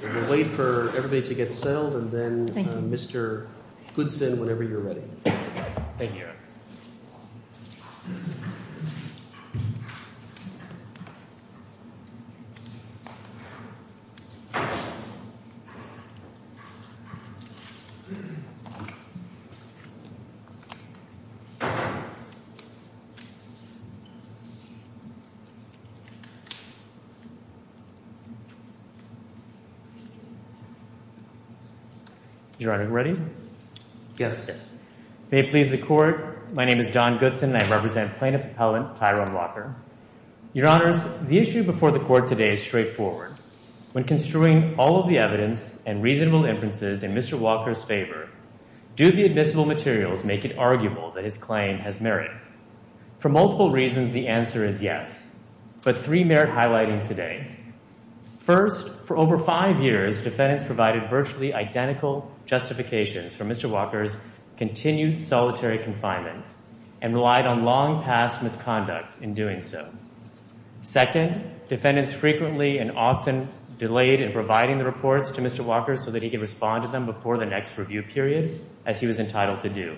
We will wait for everybody to get settled and then Mr. Goodson, whenever you're ready. Thank you. Your Honor, ready? Yes. May it please the Court, my name is Don Goodson and I represent Plaintiff Appellant Tyrone Walker. Your Honors, the issue before the Court today is straightforward. When construing all of the evidence and reasonable inferences in Mr. Walker's favor, do the admissible materials make it arguable that his claim has merit? For multiple reasons, the answer is yes, but three merit highlighting today. First, for over five years, defendants provided virtually identical justifications for Mr. Walker's continued solitary confinement and relied on long past misconduct in doing so. Second, defendants frequently and often delayed in providing the reports to Mr. Walker so that he could respond to them before the next review period, as he was entitled to do.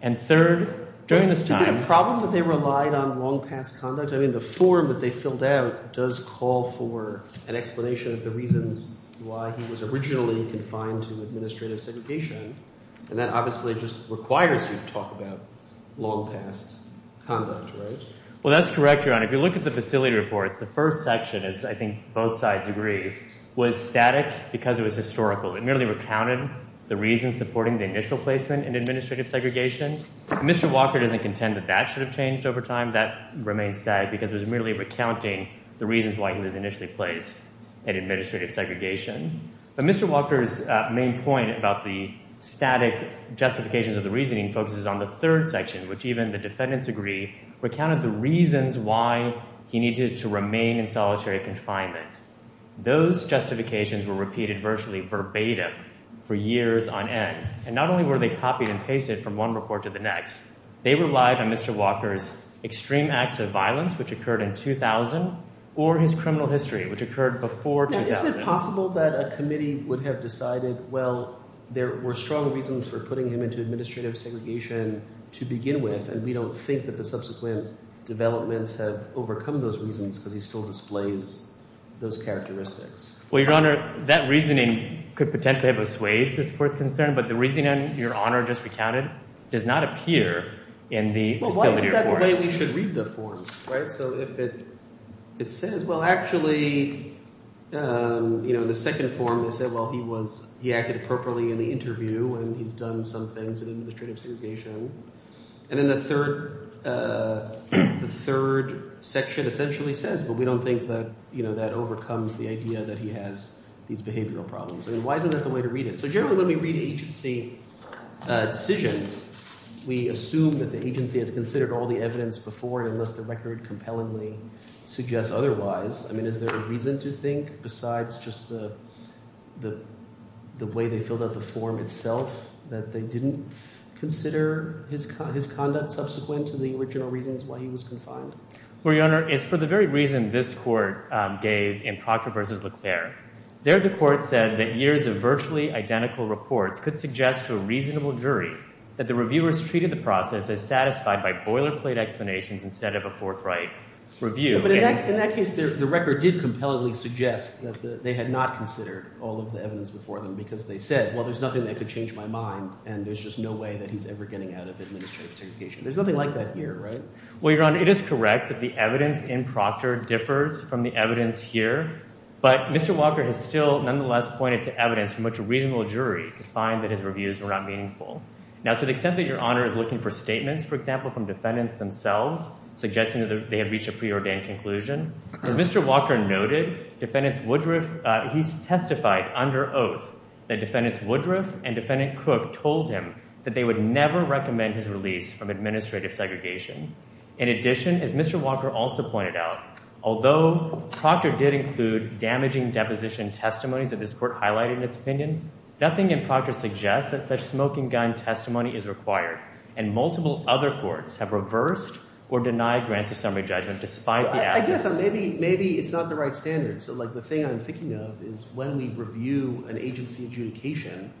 And third, during this time— Is it a problem that they relied on long past conduct? I mean, the form that they filled out does call for an explanation of the reasons why he was originally confined to administrative segregation. And that obviously just requires you to talk about long past conduct, right? Well, that's correct, Your Honor. If you look at the facility reports, the first section, as I think both sides agree, was static because it was historical. It merely recounted the reasons supporting the initial placement in administrative segregation. Mr. Walker doesn't contend that that should have changed over time. That remains said because it was merely recounting the reasons why he was initially placed in administrative segregation. But Mr. Walker's main point about the static justifications of the reasoning focuses on the third section, which even the defendants agree recounted the reasons why he needed to remain in solitary confinement. Those justifications were repeated virtually verbatim for years on end. And not only were they copied and pasted from one report to the next, they relied on Mr. Walker's extreme acts of violence, which occurred in 2000, or his criminal history, which occurred before 2000. Is it possible that a committee would have decided, well, there were strong reasons for putting him into administrative segregation to begin with, and we don't think that the subsequent developments have overcome those reasons because he still displays those characteristics? Well, Your Honor, that reasoning could potentially have assuaged this Court's concern, but the reasoning Your Honor just recounted does not appear in the facility reports. Well, why is that the way we should read the forms, right? So if it says – well, actually in the second form they said, well, he was – he acted appropriately in the interview and he's done some things in administrative segregation. And then the third section essentially says, but we don't think that that overcomes the idea that he has these behavioral problems. I mean why isn't that the way to read it? So generally when we read agency decisions, we assume that the agency has considered all the evidence before unless the record compellingly suggests otherwise. I mean is there a reason to think besides just the way they filled out the form itself that they didn't consider his conduct subsequent to the original reasons why he was confined? Well, Your Honor, it's for the very reason this Court gave in Proctor v. Leclerc. There the Court said that years of virtually identical reports could suggest to a reasonable jury that the reviewers treated the process as satisfied by boilerplate explanations instead of a forthright review. But in that case, the record did compellingly suggest that they had not considered all of the evidence before them because they said, well, there's nothing that could change my mind and there's just no way that he's ever getting out of administrative segregation. There's nothing like that here, right? Well, Your Honor, it is correct that the evidence in Proctor differs from the evidence here. But Mr. Walker has still nonetheless pointed to evidence from which a reasonable jury could find that his reviews were not meaningful. Now to the extent that Your Honor is looking for statements, for example, from defendants themselves suggesting that they had reached a preordained conclusion. As Mr. Walker noted, he testified under oath that defendants Woodruff and defendant Cook told him that they would never recommend his release from administrative segregation. In addition, as Mr. Walker also pointed out, although Proctor did include damaging deposition testimonies that this Court highlighted in its opinion, nothing in Proctor suggests that such smoking gun testimony is required. And multiple other courts have reversed or denied grants of summary judgment despite the absence— I guess maybe it's not the right standard. So like the thing I'm thinking of is when we review an agency adjudication,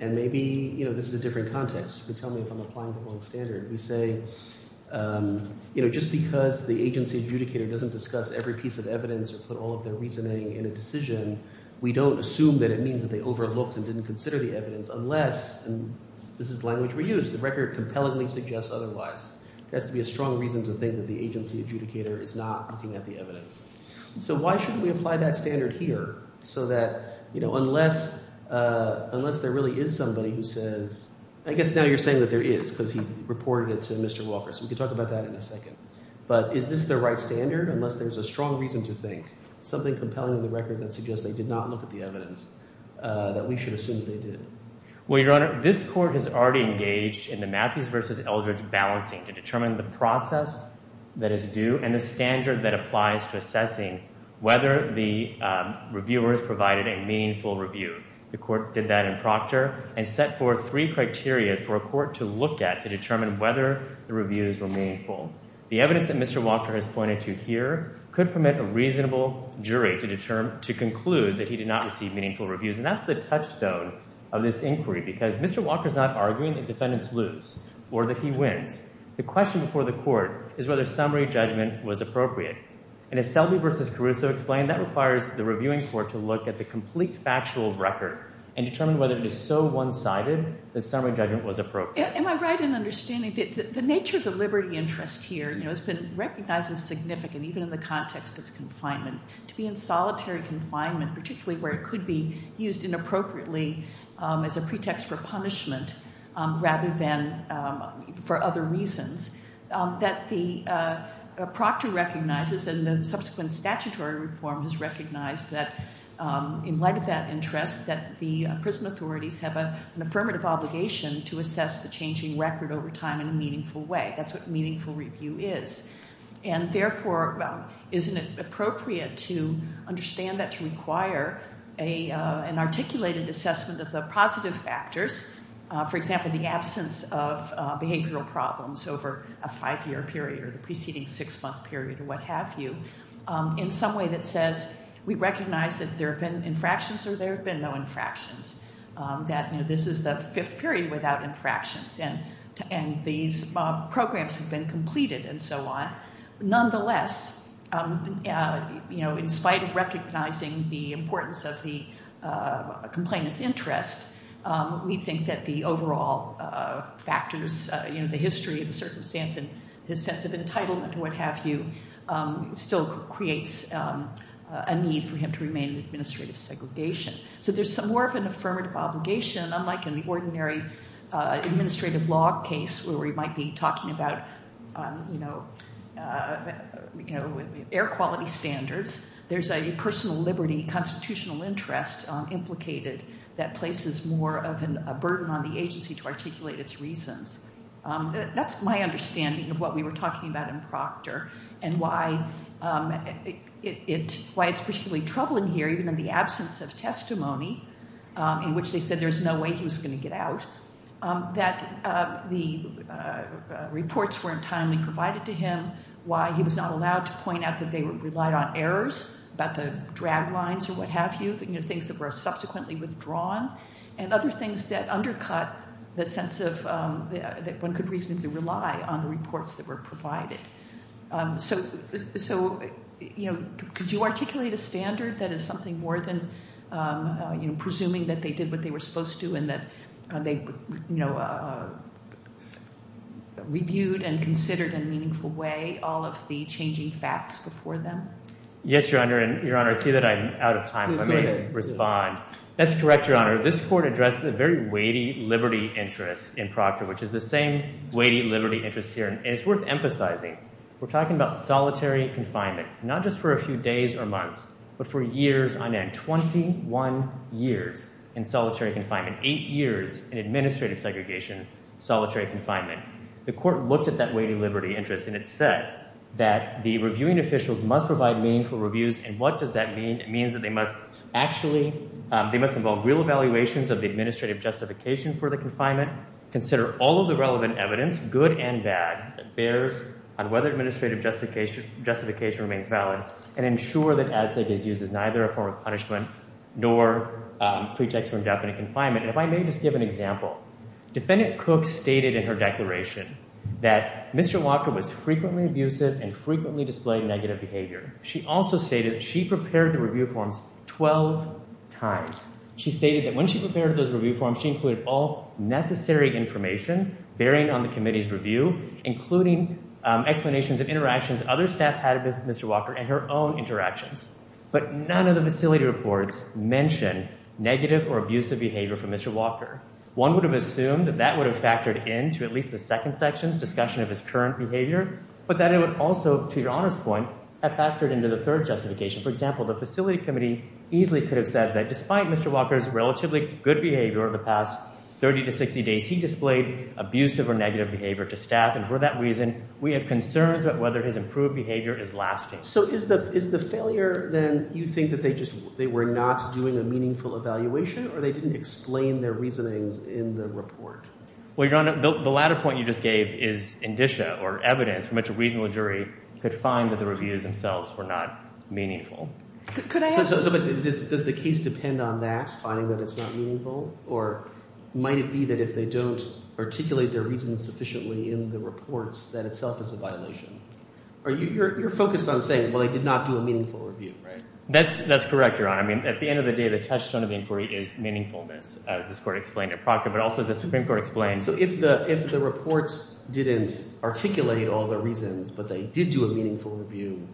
and maybe this is a different context. You can tell me if I'm applying the wrong standard. We say just because the agency adjudicator doesn't discuss every piece of evidence or put all of their reasoning in a decision, we don't assume that it means that they overlooked and didn't consider the evidence unless— the record compellingly suggests otherwise. There has to be a strong reason to think that the agency adjudicator is not looking at the evidence. So why shouldn't we apply that standard here so that unless there really is somebody who says—I guess now you're saying that there is because he reported it to Mr. Walker. So we can talk about that in a second. But is this the right standard unless there's a strong reason to think, something compelling in the record that suggests they did not look at the evidence, that we should assume that they did? Well, Your Honor, this court has already engaged in the Matthews v. Eldridge balancing to determine the process that is due and the standard that applies to assessing whether the reviewers provided a meaningful review. The court did that in proctor and set forth three criteria for a court to look at to determine whether the reviews were meaningful. The evidence that Mr. Walker has pointed to here could permit a reasonable jury to conclude that he did not receive meaningful reviews. And that's the touchstone of this inquiry because Mr. Walker is not arguing that defendants lose or that he wins. The question before the court is whether summary judgment was appropriate. And as Selby v. Caruso explained, that requires the reviewing court to look at the complete factual record and determine whether it is so one-sided that summary judgment was appropriate. Am I right in understanding that the nature of the liberty interest here has been recognized as significant, even in the context of confinement, to be in solitary confinement, particularly where it could be used inappropriately as a pretext for punishment rather than for other reasons, that the proctor recognizes and the subsequent statutory reform has recognized that, in light of that interest, that the prison authorities have an affirmative obligation to assess the changing record over time in a meaningful way. That's what meaningful review is. And therefore, isn't it appropriate to understand that to require an articulated assessment of the positive factors, for example, the absence of behavioral problems over a five-year period or the preceding six-month period or what have you, in some way that says we recognize that there have been infractions or there have been no infractions, that this is the fifth period without infractions and these programs have been completed and so on. Nonetheless, in spite of recognizing the importance of the complainant's interest, we think that the overall factors, the history of the circumstance and his sense of entitlement and what have you, still creates a need for him to remain in administrative segregation. So there's more of an affirmative obligation, unlike in the ordinary administrative law case where we might be talking about air quality standards. There's a personal liberty constitutional interest implicated that places more of a burden on the agency to articulate its reasons. That's my understanding of what we were talking about in Proctor and why it's particularly troubling here, even in the absence of testimony in which they said there's no way he was going to get out, that the reports weren't timely provided to him, why he was not allowed to point out that they relied on errors, about the drag lines or what have you, things that were subsequently withdrawn, and other things that undercut the sense that one could reasonably rely on the reports that were provided. So could you articulate a standard that is something more than presuming that they did what they were supposed to and that they reviewed and considered in a meaningful way all of the changing facts before them? Yes, Your Honor, and Your Honor, I see that I'm out of time. Let me respond. That's correct, Your Honor. This court addressed the very weighty liberty interest in Proctor, which is the same weighty liberty interest here. And it's worth emphasizing, we're talking about solitary confinement, not just for a few days or months, but for years on end, 21 years in solitary confinement, eight years in administrative segregation, solitary confinement. The court looked at that weighty liberty interest, and it said that the reviewing officials must provide meaningful reviews. And what does that mean? It means that they must involve real evaluations of the administrative justification for the confinement, consider all of the relevant evidence, good and bad, that bears on whether administrative justification remains valid, and ensure that ad sec is used as neither a form of punishment nor pretext for indefinite confinement. And if I may just give an example, Defendant Cook stated in her declaration that Mr. Walker was frequently abusive and frequently displayed negative behavior. She also stated she prepared the review forms 12 times. She stated that when she prepared those review forms, she included all necessary information bearing on the committee's review, including explanations of interactions other staff had with Mr. Walker and her own interactions. But none of the facility reports mentioned negative or abusive behavior from Mr. Walker. One would have assumed that that would have factored into at least the second section's discussion of his current behavior, but that it would also, to Your Honor's point, have factored into the third justification. For example, the facility committee easily could have said that despite Mr. Walker's relatively good behavior over the past 30 to 60 days, he displayed abusive or negative behavior to staff, and for that reason, we have concerns about whether his improved behavior is lasting. So is the failure, then, you think that they just – they were not doing a meaningful evaluation, or they didn't explain their reasonings in the report? Well, Your Honor, the latter point you just gave is indicia, or evidence, from which a reasonable jury could find that the reviews themselves were not meaningful. Could I ask – So does the case depend on that, finding that it's not meaningful? Or might it be that if they don't articulate their reasons sufficiently in the reports, that itself is a violation? You're focused on saying, well, they did not do a meaningful review, right? That's correct, Your Honor. I mean, at the end of the day, the touchstone of inquiry is meaningfulness, as this Court explained at Proctor, but also as the Supreme Court explained – but they did do a meaningful review.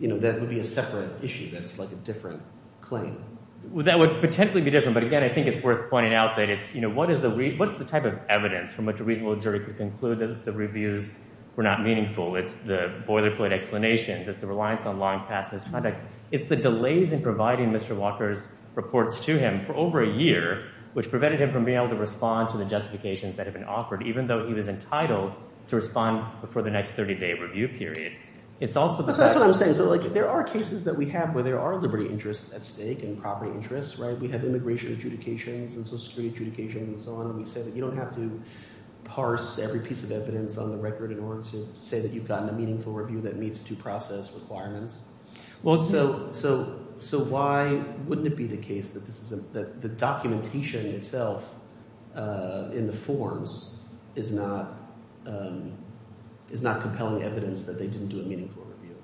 That would be a separate issue. That's like a different claim. Well, that would potentially be different, but again, I think it's worth pointing out that it's – what is the type of evidence from which a reasonable jury could conclude that the reviews were not meaningful? It's the boilerplate explanations. It's the reliance on long-past misconduct. It's the delays in providing Mr. Walker's reports to him for over a year, which prevented him from being able to respond to the justifications that have been offered, even though he was entitled to respond before the next 30-day review period. It's also – That's what I'm saying. So there are cases that we have where there are liberty interests at stake and property interests, right? We have immigration adjudications and social security adjudications and so on. We say that you don't have to parse every piece of evidence on the record in order to say that you've gotten a meaningful review that meets due process requirements. Well, so why wouldn't it be the case that the documentation itself in the forms is not compelling evidence that they didn't do a meaningful review?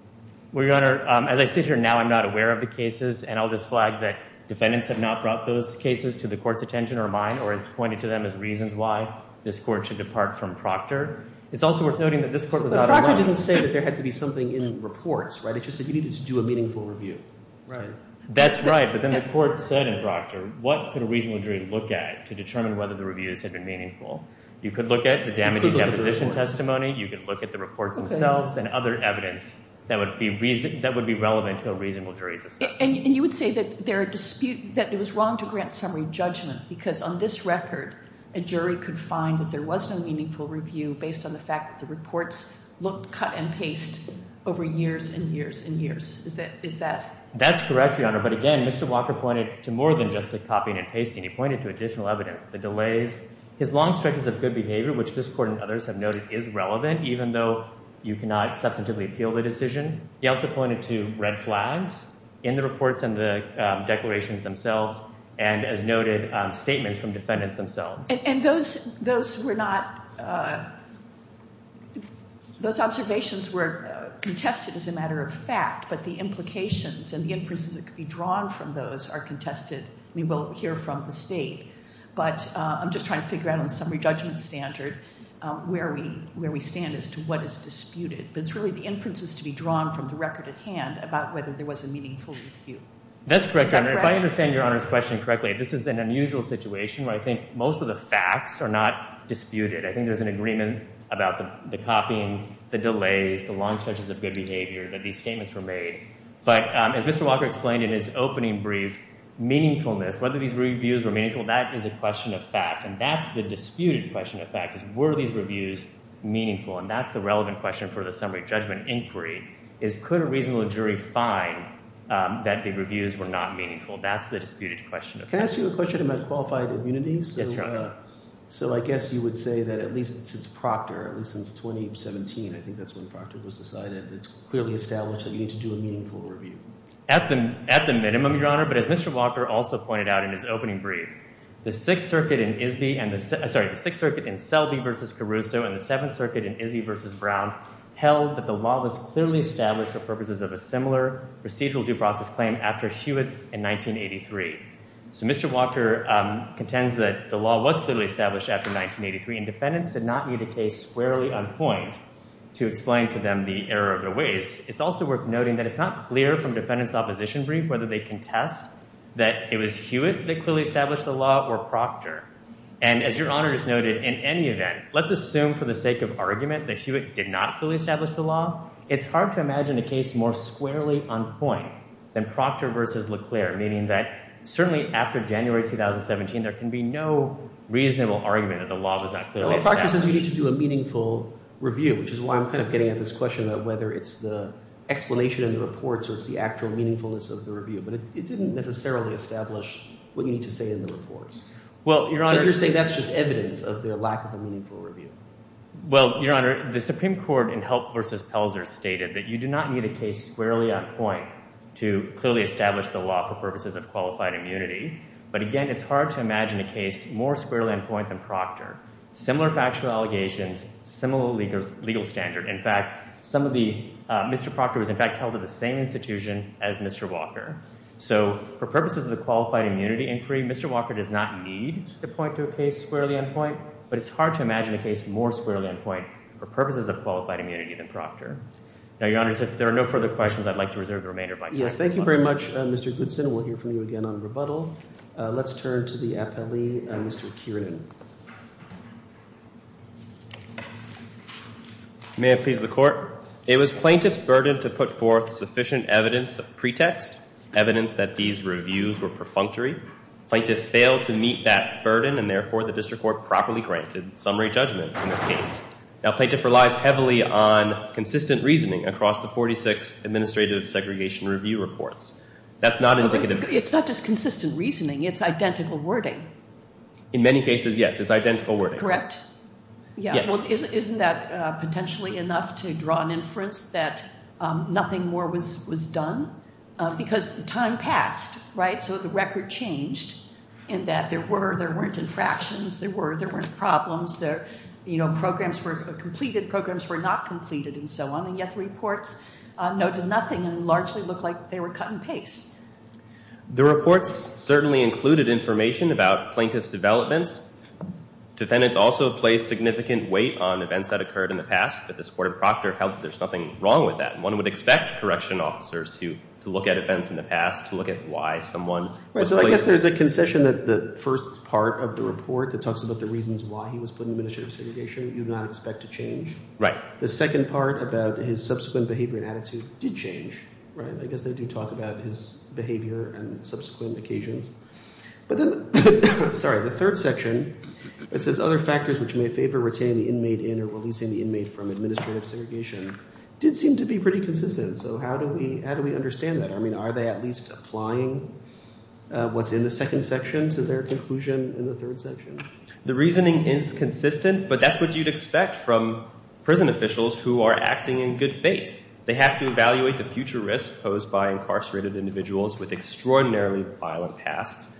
Well, Your Honor, as I sit here now, I'm not aware of the cases, and I'll just flag that defendants have not brought those cases to the court's attention or mine or has pointed to them as reasons why this court should depart from Proctor. It's also worth noting that this court was not alone. Proctor didn't say that there had to be something in reports, right? It just said you needed to do a meaningful review. Right. That's right, but then the court said in Proctor, what could a reasonable jury look at to determine whether the reviews had been meaningful? You could look at the damaging deposition testimony. You could look at the reports themselves and other evidence that would be relevant to a reasonable jury's assessment. And you would say that there are – that it was wrong to grant summary judgment because on this record, a jury could find that there was no meaningful review based on the fact that the reports looked cut and paste over years and years and years. Is that – That's correct, Your Honor, but again, Mr. Walker pointed to more than just the copying and pasting. He pointed to additional evidence, the delays. His long stretches of good behavior, which this court and others have noted is relevant, even though you cannot substantively appeal the decision. He also pointed to red flags in the reports and the declarations themselves and, as noted, statements from defendants themselves. And those were not – those observations were contested as a matter of fact, but the implications and the inferences that could be drawn from those are contested. We will hear from the State, but I'm just trying to figure out on a summary judgment standard where we stand as to what is disputed. But it's really the inferences to be drawn from the record at hand about whether there was a meaningful review. That's correct, Your Honor. If I understand Your Honor's question correctly, this is an unusual situation where I think most of the facts are not disputed. I think there's an agreement about the copying, the delays, the long stretches of good behavior, that these statements were made. But as Mr. Walker explained in his opening brief, meaningfulness, whether these reviews were meaningful, that is a question of fact, and that's the disputed question of fact is were these reviews meaningful, and that's the relevant question for the summary judgment inquiry is could a reasonable jury find that the reviews were not meaningful. That's the disputed question of fact. Can I ask you a question about qualified immunity? Yes, Your Honor. So I guess you would say that at least since Proctor, at least since 2017, I think that's when Proctor was decided, it's clearly established that you need to do a meaningful review. At the minimum, Your Honor, but as Mr. Walker also pointed out in his opening brief, the Sixth Circuit in Selby v. Caruso and the Seventh Circuit in Isby v. Brown held that the law was clearly established for purposes of a similar procedural due process claim after Hewitt in 1983. So Mr. Walker contends that the law was clearly established after 1983 and defendants did not need a case squarely uncoined to explain to them the error of their ways. It's also worth noting that it's not clear from defendants' opposition brief whether they contest that it was Hewitt that clearly established the law or Proctor. And as Your Honor has noted, in any event, let's assume for the sake of argument that Hewitt did not fully establish the law. It's hard to imagine a case more squarely uncoined than Proctor v. Leclerc, meaning that certainly after January 2017, there can be no reasonable argument that the law was not clearly established. Well, Proctor says you need to do a meaningful review, which is why I'm kind of getting at this question of whether it's the explanation in the reports or it's the actual meaningfulness of the review. But it didn't necessarily establish what you need to say in the reports. Well, Your Honor— You're saying that's just evidence of their lack of a meaningful review. Well, Your Honor, the Supreme Court in Help v. Pelzer stated that you do not need a case squarely uncoined to clearly establish the law for purposes of qualified immunity. But again, it's hard to imagine a case more squarely uncoined than Proctor. Similar factual allegations, similar legal standard. In fact, Mr. Proctor was in fact held at the same institution as Mr. Walker. So for purposes of the qualified immunity inquiry, Mr. Walker does not need to point to a case squarely uncoined, but it's hard to imagine a case more squarely uncoined for purposes of qualified immunity than Proctor. Now, Your Honor, if there are no further questions, I'd like to reserve the remainder of my time. Yes, thank you very much, Mr. Goodson. We'll hear from you again on rebuttal. Let's turn to the appellee, Mr. Kieran. May it please the Court. It was plaintiff's burden to put forth sufficient evidence of pretext, evidence that these reviews were perfunctory. Plaintiff failed to meet that burden, and therefore the district court properly granted summary judgment in this case. Now, plaintiff relies heavily on consistent reasoning across the 46 administrative segregation review reports. That's not indicative of... It's not just consistent reasoning. It's identical wording. In many cases, yes. It's identical wording. Correct? Yes. Well, isn't that potentially enough to draw an inference that nothing more was done? Because time passed, right? So the record changed in that there were, there weren't infractions. There were, there weren't problems. There, you know, programs were completed, programs were not completed, and so on. And yet the reports noted nothing and largely looked like they were cut and paste. The reports certainly included information about plaintiff's developments. Defendants also placed significant weight on events that occurred in the past, but this Court of Proctor held that there's nothing wrong with that. One would expect correction officers to look at events in the past, to look at why someone was placed... So I guess there's a concession that the first part of the report that talks about the reasons why he was put in administrative segregation, you do not expect to change. Right. The second part about his subsequent behavior and attitude did change, right? I guess they do talk about his behavior and subsequent occasions. But then, sorry, the third section, it says other factors which may favor retaining the inmate in or releasing the inmate from administrative segregation did seem to be pretty consistent. So how do we, how do we understand that? I mean, are they at least applying what's in the second section to their conclusion in the third section? The reasoning is consistent, but that's what you'd expect from prison officials who are acting in good faith. They have to evaluate the future risk posed by incarcerated individuals with extraordinarily violent pasts,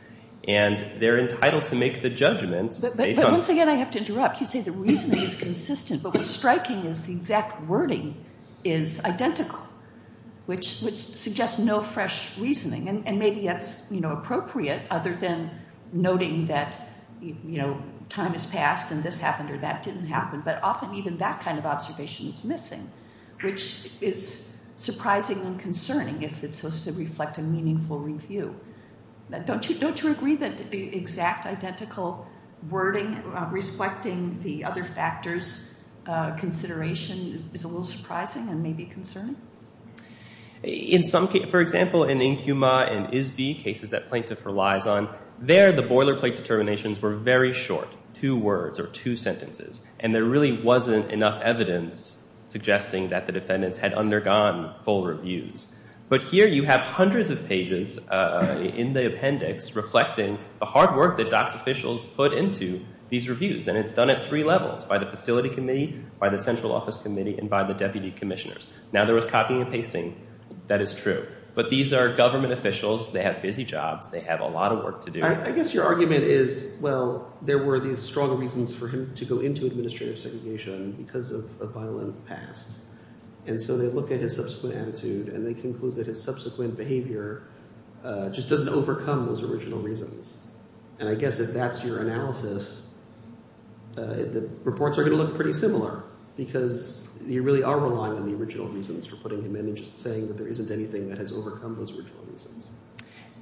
and they're entitled to make the judgment based on... But once again, I have to interrupt. You say the reasoning is consistent, but what's striking is the exact wording is identical, which suggests no fresh reasoning. And maybe that's, you know, appropriate other than noting that, you know, time has passed and this happened or that didn't happen, but often even that kind of observation is missing, which is surprising and concerning if it's supposed to reflect a meaningful review. Don't you agree that the exact identical wording, reflecting the other factors consideration is a little surprising and maybe concerning? In some cases, for example, in Nkuma and Isby, cases that plaintiff relies on, there the boilerplate determinations were very short, two words or two sentences, and there really wasn't enough evidence suggesting that the defendants had undergone full reviews. But here you have hundreds of pages in the appendix reflecting the hard work that DOCS officials put into these reviews, and it's done at three levels, by the facility committee, by the central office committee, and by the deputy commissioners. Now, there was copying and pasting. That is true. But these are government officials. They have busy jobs. They have a lot of work to do. I guess your argument is, well, there were these strong reasons for him to go into administrative segregation because of a violent past, and so they look at his subsequent attitude, and they conclude that his subsequent behavior just doesn't overcome those original reasons. And I guess if that's your analysis, the reports are going to look pretty similar because you really are relying on the original reasons for putting him in and just saying that there isn't anything that has overcome those original reasons.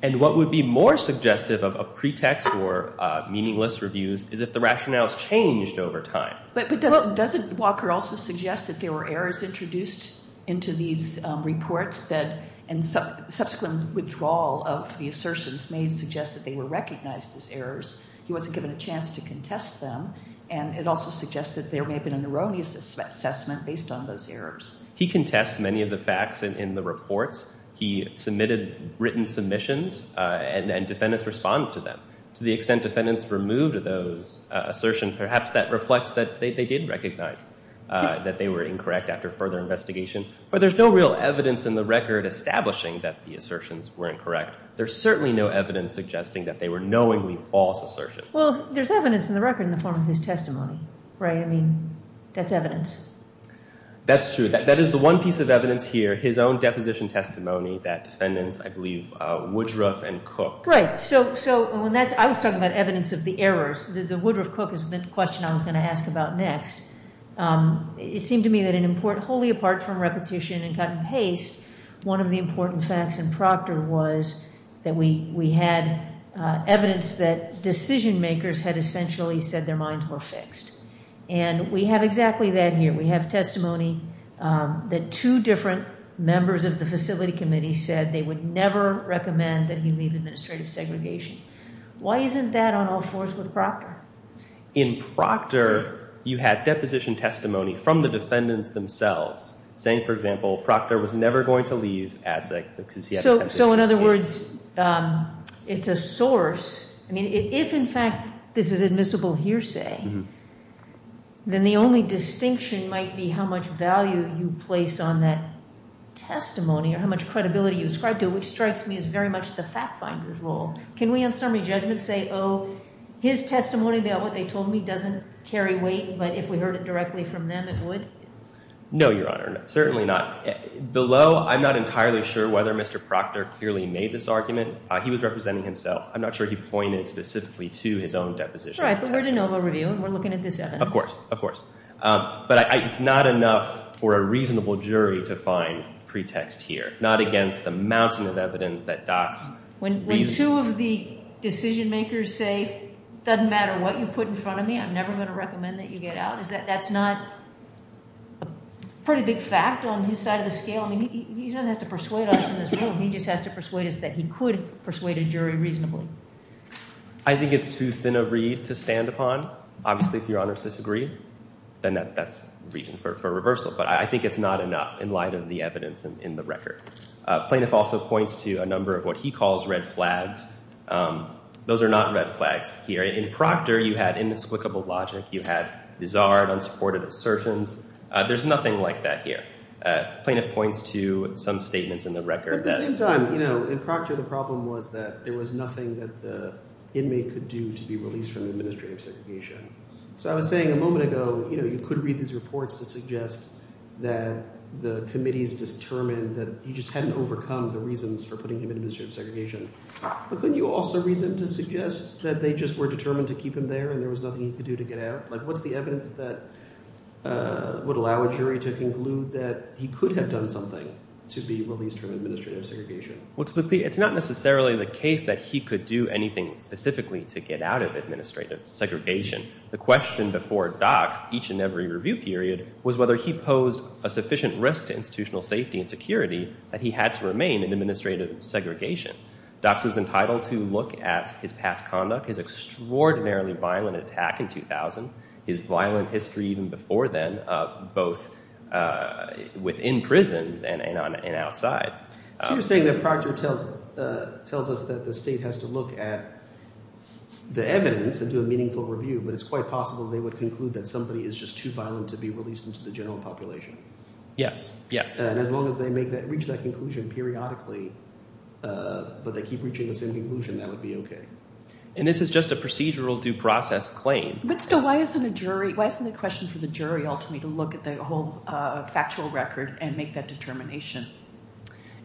And what would be more suggestive of pretext or meaningless reviews is if the rationales changed over time. But doesn't Walker also suggest that there were errors introduced into these reports that subsequent withdrawal of the assertions may suggest that they were recognized as errors? He wasn't given a chance to contest them, and it also suggests that there may have been an erroneous assessment based on those errors. He contests many of the facts in the reports. He submitted written submissions, and defendants responded to them. To the extent defendants removed those assertions, perhaps that reflects that they did recognize that they were incorrect after further investigation. But there's no real evidence in the record establishing that the assertions were incorrect. There's certainly no evidence suggesting that they were knowingly false assertions. Well, there's evidence in the record in the form of his testimony, right? I mean, that's evidence. That's true. That is the one piece of evidence here, his own deposition testimony, that defendants, I believe, Woodruff and Cook. Right. So I was talking about evidence of the errors. The Woodruff-Cook is the question I was going to ask about next. It seemed to me that wholly apart from repetition and cut and paste, one of the important facts in Proctor was that we had evidence that decision makers had essentially said their minds were fixed. And we have exactly that here. We have testimony that two different members of the facility committee said they would never recommend that he leave administrative segregation. Why isn't that on all fours with Proctor? In Proctor, you had deposition testimony from the defendants themselves, saying, for example, Proctor was never going to leave ADSEC because he had a deposition statement. So in other words, it's a source. I mean, if, in fact, this is admissible hearsay, then the only distinction might be how much value you place on that testimony or how much credibility you ascribe to it, which strikes me as very much the fact finder's role. Can we, on summary judgment, say, oh, his testimony about what they told me doesn't carry weight, but if we heard it directly from them, it would? No, Your Honor. Certainly not. Below, I'm not entirely sure whether Mr. Proctor clearly made this argument. He was representing himself. I'm not sure he pointed specifically to his own deposition. Right, but we're de novo reviewing. We're looking at this evidence. Of course. Of course. But it's not enough for a reasonable jury to find pretext here, not against the mountain of evidence that docks reason. When two of the decision makers say, doesn't matter what you put in front of me, I'm never going to recommend that you get out, is that that's not a pretty big fact on his side of the scale? I mean, he doesn't have to persuade us in this room. He just has to persuade us that he could persuade a jury reasonably. I think it's too thin a reed to stand upon. Obviously, if Your Honors disagree, then that's reason for reversal. But I think it's not enough in light of the evidence in the record. Plaintiff also points to a number of what he calls red flags. Those are not red flags here. In Proctor, you had inexplicable logic. You had bizarre and unsupported assertions. There's nothing like that here. Plaintiff points to some statements in the record. At the same time, you know, in Proctor, the problem was that there was nothing that the inmate could do to be released from administrative segregation. So I was saying a moment ago, you know, you could read these reports to suggest that the committee's determined that he just hadn't overcome the reasons for putting him in administrative segregation. But couldn't you also read them to suggest that they just were determined to keep him there and there was nothing he could do to get out? Like, what's the evidence that would allow a jury to conclude that he could have done something to be released from administrative segregation? Well, it's not necessarily the case that he could do anything specifically to get out of administrative segregation. The question before Dock's each and every review period was whether he posed a sufficient risk to institutional safety and security that he had to remain in administrative segregation. Dock's was entitled to look at his past conduct, his extraordinarily violent attack in 2000, his violent history even before then, both within prisons and outside. So you're saying that Proctor tells us that the state has to look at the evidence and do a meaningful review, but it's quite possible they would conclude that somebody is just too violent to be released into the general population. Yes, yes. And as long as they reach that conclusion periodically, but they keep reaching the same conclusion, that would be okay. And this is just a procedural due process claim. But still, why isn't the question for the jury ultimately to look at the whole factual record and make that determination?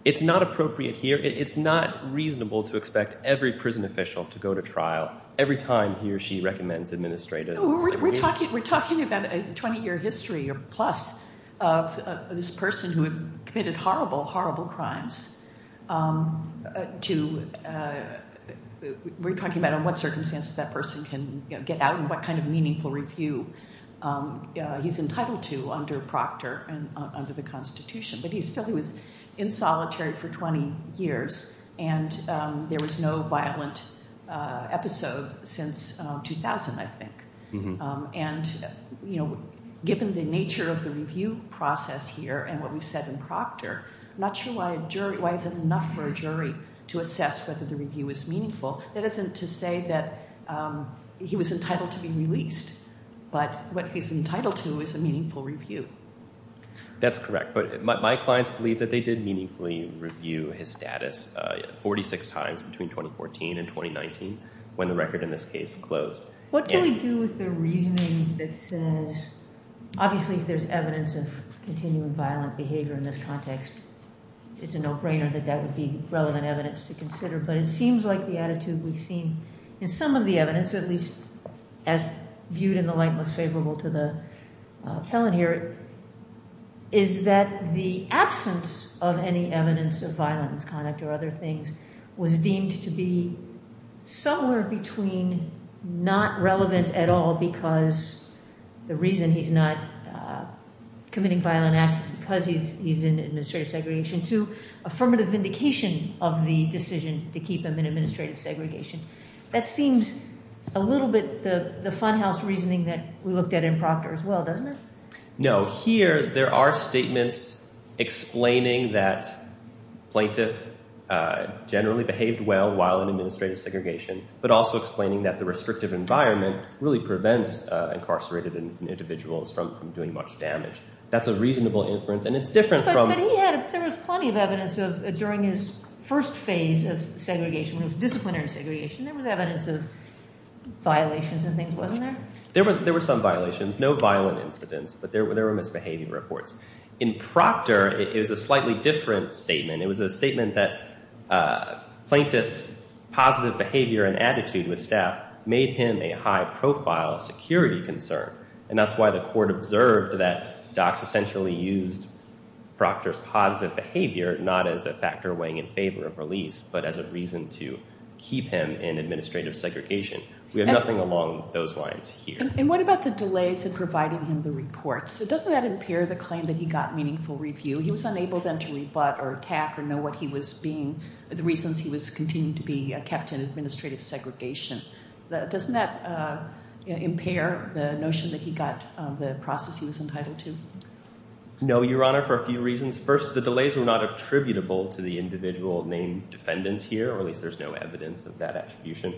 It's not appropriate here. It's not reasonable to expect every prison official to go to trial every time he or she recommends administrative segregation. We're talking about a 20-year history or plus of this person who had committed horrible, horrible crimes. We're talking about what circumstances that person can get out and what kind of meaningful review he's entitled to under Proctor and under the Constitution. But still, he was in solitary for 20 years, and there was no violent episode since 2000, I think. And given the nature of the review process here and what we've said in Proctor, I'm not sure why it's enough for a jury to assess whether the review is meaningful. That isn't to say that he was entitled to be released, but what he's entitled to is a meaningful review. That's correct. But my clients believe that they did meaningfully review his status 46 times between 2014 and 2019 when the record in this case closed. What do we do with the reasoning that says, obviously if there's evidence of continuing violent behavior in this context, it's a no-brainer that that would be relevant evidence to consider. But it seems like the attitude we've seen in some of the evidence, at least as viewed in the light most favorable to the felon here, is that the absence of any evidence of violent misconduct or other things was deemed to be somewhere between not relevant at all because the reason he's not committing violent acts is because he's in administrative segregation to affirmative vindication of the decision to keep him in administrative segregation. That seems a little bit the funhouse reasoning that we looked at in Proctor as well, doesn't it? No. Here there are statements explaining that plaintiff generally behaved well while in administrative segregation, but also explaining that the restrictive environment really prevents incarcerated individuals from doing much damage. That's a reasonable inference, and it's different from— There was plenty of evidence during his first phase of segregation when he was disciplinary in segregation. There was evidence of violations and things, wasn't there? There were some violations, no violent incidents, but there were misbehavior reports. In Proctor, it was a slightly different statement. It was a statement that plaintiff's positive behavior and attitude with staff made him a high-profile security concern, and that's why the court observed that docs essentially used Proctor's positive behavior not as a factor weighing in favor of release, but as a reason to keep him in administrative segregation. We have nothing along those lines here. And what about the delays in providing him the reports? Doesn't that impair the claim that he got meaningful review? He was unable then to rebut or attack or know what he was being—the reasons he was continuing to be kept in administrative segregation. Doesn't that impair the notion that he got the process he was entitled to? No, Your Honor, for a few reasons. First, the delays were not attributable to the individual named defendants here, or at least there's no evidence of that attribution.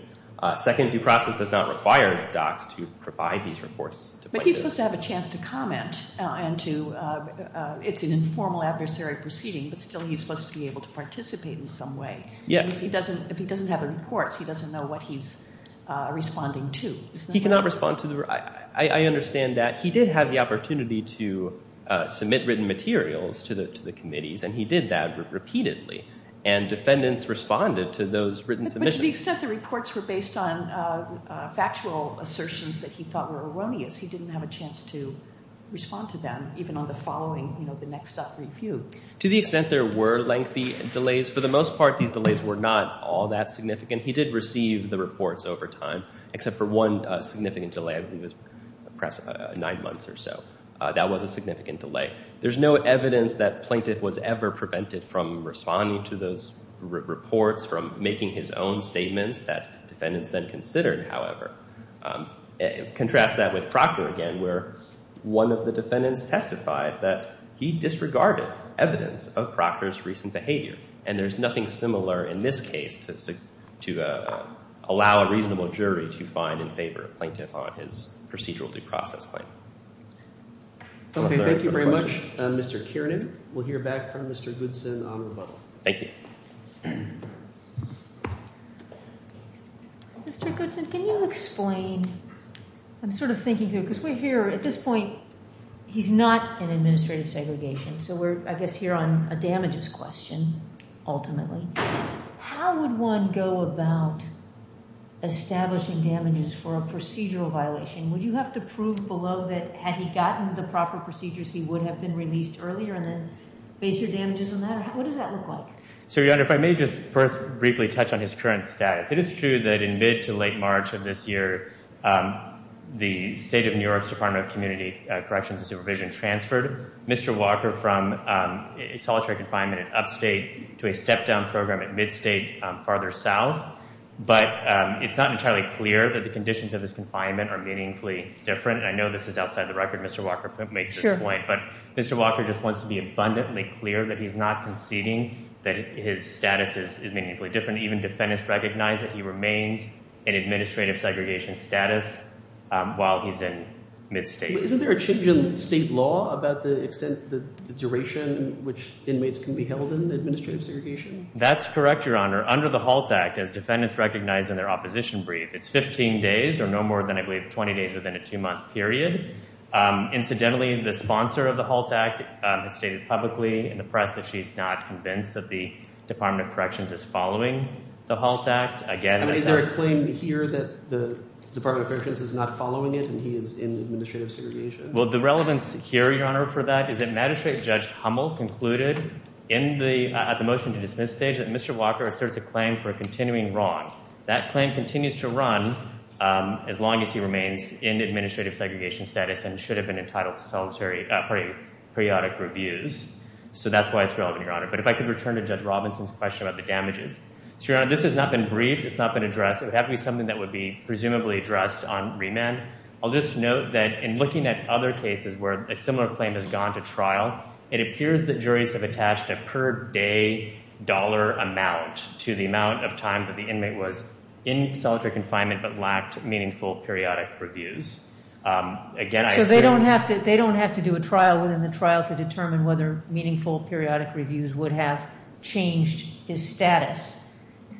Second, due process does not require docs to provide these reports to plaintiffs. But he's supposed to have a chance to comment and to—it's an informal adversary proceeding, but still he's supposed to be able to participate in some way. Yes. But if he doesn't have the reports, he doesn't know what he's responding to. He cannot respond to the—I understand that. He did have the opportunity to submit written materials to the committees, and he did that repeatedly. And defendants responded to those written submissions. But to the extent the reports were based on factual assertions that he thought were erroneous, he didn't have a chance to respond to them, even on the following—you know, the next up review. To the extent there were lengthy delays, for the most part these delays were not all that significant. He did receive the reports over time, except for one significant delay. I believe it was perhaps nine months or so. That was a significant delay. There's no evidence that plaintiff was ever prevented from responding to those reports, from making his own statements that defendants then considered, however. Contrast that with Proctor again, where one of the defendants testified that he disregarded evidence of Proctor's recent behavior. And there's nothing similar in this case to allow a reasonable jury to find in favor of plaintiff on his procedural due process claim. Okay. Thank you very much, Mr. Kiernan. We'll hear back from Mr. Goodson on rebuttal. Thank you. Mr. Goodson, can you explain—I'm sort of thinking through, because we're here—at this point, he's not in administrative segregation. So we're, I guess, here on a damages question, ultimately. How would one go about establishing damages for a procedural violation? Would you have to prove below that had he gotten the proper procedures, he would have been released earlier and then base your damages on that? What does that look like? So, Your Honor, if I may just first briefly touch on his current status. It is true that in mid to late March of this year, the State of New York's Department of Community Corrections and Supervision transferred Mr. Walker from solitary confinement at upstate to a step-down program at midstate farther south. But it's not entirely clear that the conditions of his confinement are meaningfully different. I know this is outside the record. Mr. Walker makes this point. But Mr. Walker just wants to be abundantly clear that he's not conceding that his status is meaningfully different. Even defendants recognize that he remains in administrative segregation status while he's in midstate. Isn't there a change in state law about the extent, the duration in which inmates can be held in administrative segregation? That's correct, Your Honor. Under the HALT Act, as defendants recognize in their opposition brief, it's 15 days or no more than, I believe, 20 days within a two-month period. Incidentally, the sponsor of the HALT Act has stated publicly in the press that she's not convinced that the Department of Corrections is following the HALT Act. Is there a claim here that the Department of Corrections is not following it and he is in administrative segregation? Well, the relevance here, Your Honor, for that is that Magistrate Judge Hummel concluded at the motion-to-dismiss stage that Mr. Walker asserts a claim for a continuing wrong. That claim continues to run as long as he remains in administrative segregation status and should have been entitled to solitary periodic reviews. So that's why it's relevant, Your Honor. But if I could return to Judge Robinson's question about the damages. So, Your Honor, this has not been briefed. It's not been addressed. It would have to be something that would be presumably addressed on remand. I'll just note that in looking at other cases where a similar claim has gone to trial, it appears that juries have attached a per-day dollar amount to the amount of time that the inmate was in solitary confinement but lacked meaningful periodic reviews. Again, I agree. So they don't have to do a trial within the trial to determine whether meaningful periodic reviews would have changed his status.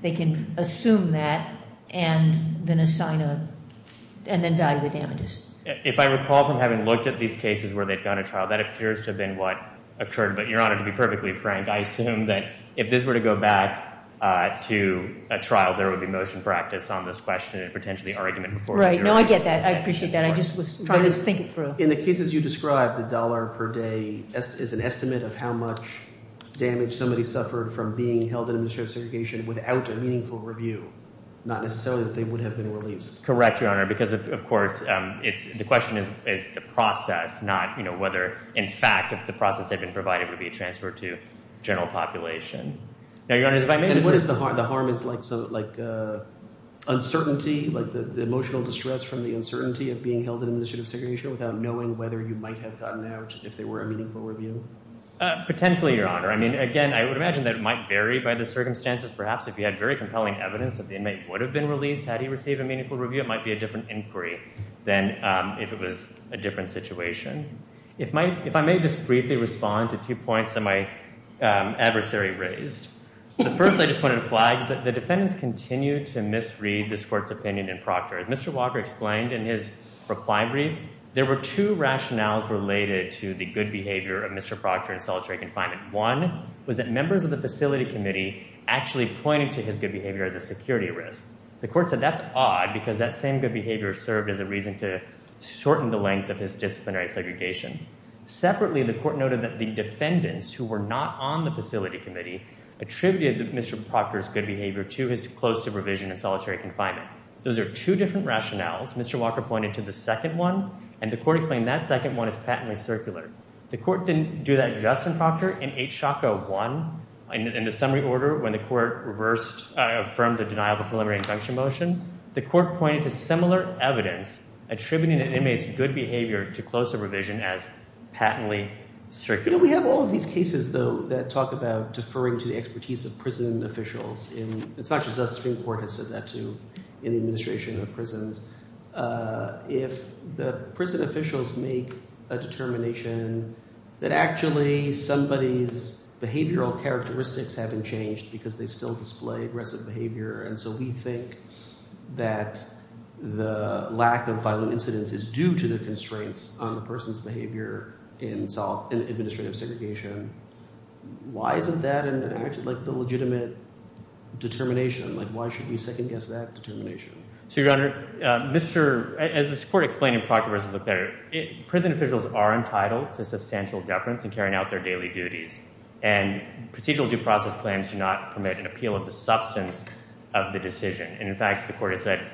They can assume that and then assign a – and then value the damages. If I recall from having looked at these cases where they've gone to trial, that appears to have been what occurred. But, Your Honor, to be perfectly frank, I assume that if this were to go back to a trial, there would be motion practice on this question and potentially argument before the jury. Right. No, I get that. I appreciate that. I just was trying to think it through. In the cases you described, the dollar per day is an estimate of how much damage somebody suffered from being held in administrative segregation without a meaningful review, not necessarily that they would have been released. Correct, Your Honor, because, of course, it's – the question is the process, not whether, in fact, if the process had been provided, it would be a transfer to general population. Now, Your Honor, if I may – And what is the harm? The harm is like uncertainty, like the emotional distress from the uncertainty of being held in administrative segregation without knowing whether you might have gotten out if there were a meaningful review? Potentially, Your Honor. I mean, again, I would imagine that it might vary by the circumstances. Perhaps if you had very compelling evidence that the inmate would have been released had he received a meaningful review, it might be a different inquiry than if it was a different situation. If I may just briefly respond to two points that my adversary raised. The first I just wanted to flag is that the defendants continue to misread this Court's opinion in Proctor. As Mr. Walker explained in his reply brief, there were two rationales related to the good behavior of Mr. Proctor in solitary confinement. One was that members of the Facility Committee actually pointed to his good behavior as a security risk. The Court said that's odd because that same good behavior served as a reason to shorten the length of his disciplinary segregation. Separately, the Court noted that the defendants who were not on the Facility Committee attributed Mr. Proctor's good behavior to his close supervision in solitary confinement. Those are two different rationales. Mr. Walker pointed to the second one, and the Court explained that second one is patently circular. The Court didn't do that just in Proctor. In the summary order when the Court reversed – affirmed the denial of a preliminary injunction motion, the Court pointed to similar evidence attributing an inmate's good behavior to close supervision as patently circular. We have all of these cases, though, that talk about deferring to the expertise of prison officials. It's not just us. Supreme Court has said that too in the administration of prisons. If the prison officials make a determination that actually somebody's behavioral characteristics haven't changed because they still display aggressive behavior, and so we think that the lack of violent incidents is due to the constraints on the person's behavior in administrative segregation. Why isn't that an – like the legitimate determination? Like why should we second-guess that determination? So, Your Honor, Mr. – as this Court explained in Proctor v. Leclerc, prison officials are entitled to substantial deference in carrying out their daily duties. And procedural due process claims do not permit an appeal of the substance of the decision. And, in fact, the Court has said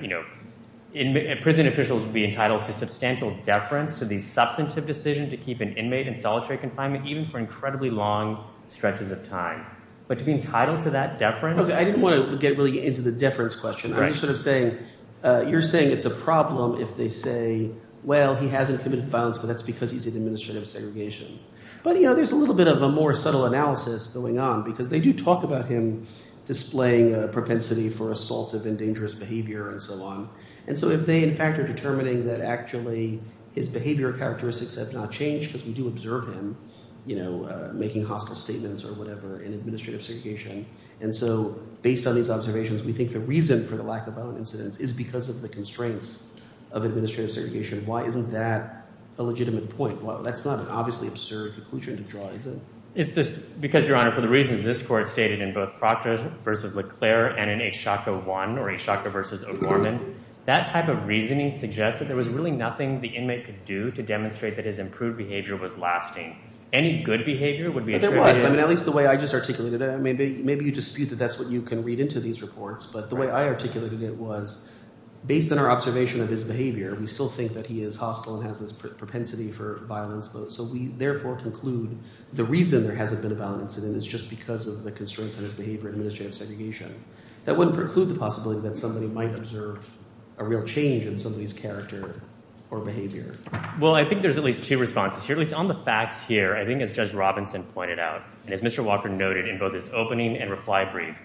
prison officials would be entitled to substantial deference to the substantive decision to keep an inmate in solitary confinement even for incredibly long stretches of time. But to be entitled to that deference – I didn't want to get really into the deference question. I'm just sort of saying you're saying it's a problem if they say, well, he hasn't committed violence, but that's because he's in administrative segregation. But there's a little bit of a more subtle analysis going on because they do talk about him displaying a propensity for assaultive and dangerous behavior and so on. And so if they, in fact, are determining that actually his behavioral characteristics have not changed because we do observe him making hostile statements or whatever in administrative segregation. And so based on these observations, we think the reason for the lack of violent incidents is because of the constraints of administrative segregation. Why isn't that a legitimate point? Well, that's not an obviously absurd conclusion to draw, is it? It's just because, Your Honor, for the reasons this Court stated in both Proctor v. Leclerc and in H. Shocker 1 or H. Shocker v. O'Gorman, that type of reasoning suggests that there was really nothing the inmate could do to demonstrate that his improved behavior was lasting. Well, there was. I mean, at least the way I just articulated it. Maybe you dispute that that's what you can read into these reports, but the way I articulated it was based on our observation of his behavior, we still think that he is hostile and has this propensity for violence. So we therefore conclude the reason there hasn't been a violent incident is just because of the constraints on his behavior in administrative segregation. That wouldn't preclude the possibility that somebody might observe a real change in somebody's character or behavior. Well, I think there's at least two responses here. At least on the facts here, I think as Judge Robinson pointed out, and as Mr. Walker noted in both his opening and reply brief,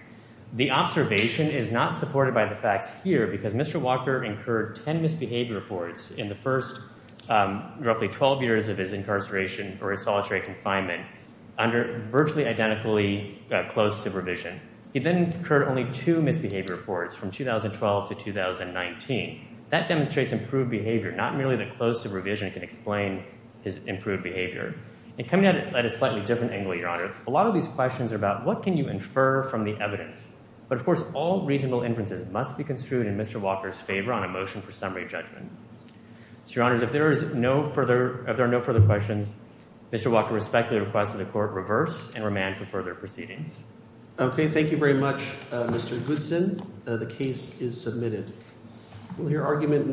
the observation is not supported by the facts here because Mr. Walker incurred 10 misbehavior reports in the first roughly 12 years of his incarceration or his solitary confinement under virtually identically closed supervision. He then incurred only two misbehavior reports from 2012 to 2019. That demonstrates improved behavior, not merely that closed supervision can explain his improved behavior. And coming at it at a slightly different angle, Your Honor, a lot of these questions are about what can you infer from the evidence. But of course, all reasonable inferences must be construed in Mr. Walker's favor on a motion for summary judgment. So, Your Honors, if there are no further questions, Mr. Walker respectfully requests that the Court reverse and remand for further proceedings. Okay, thank you very much, Mr. Goodson. The case is submitted. Will your argument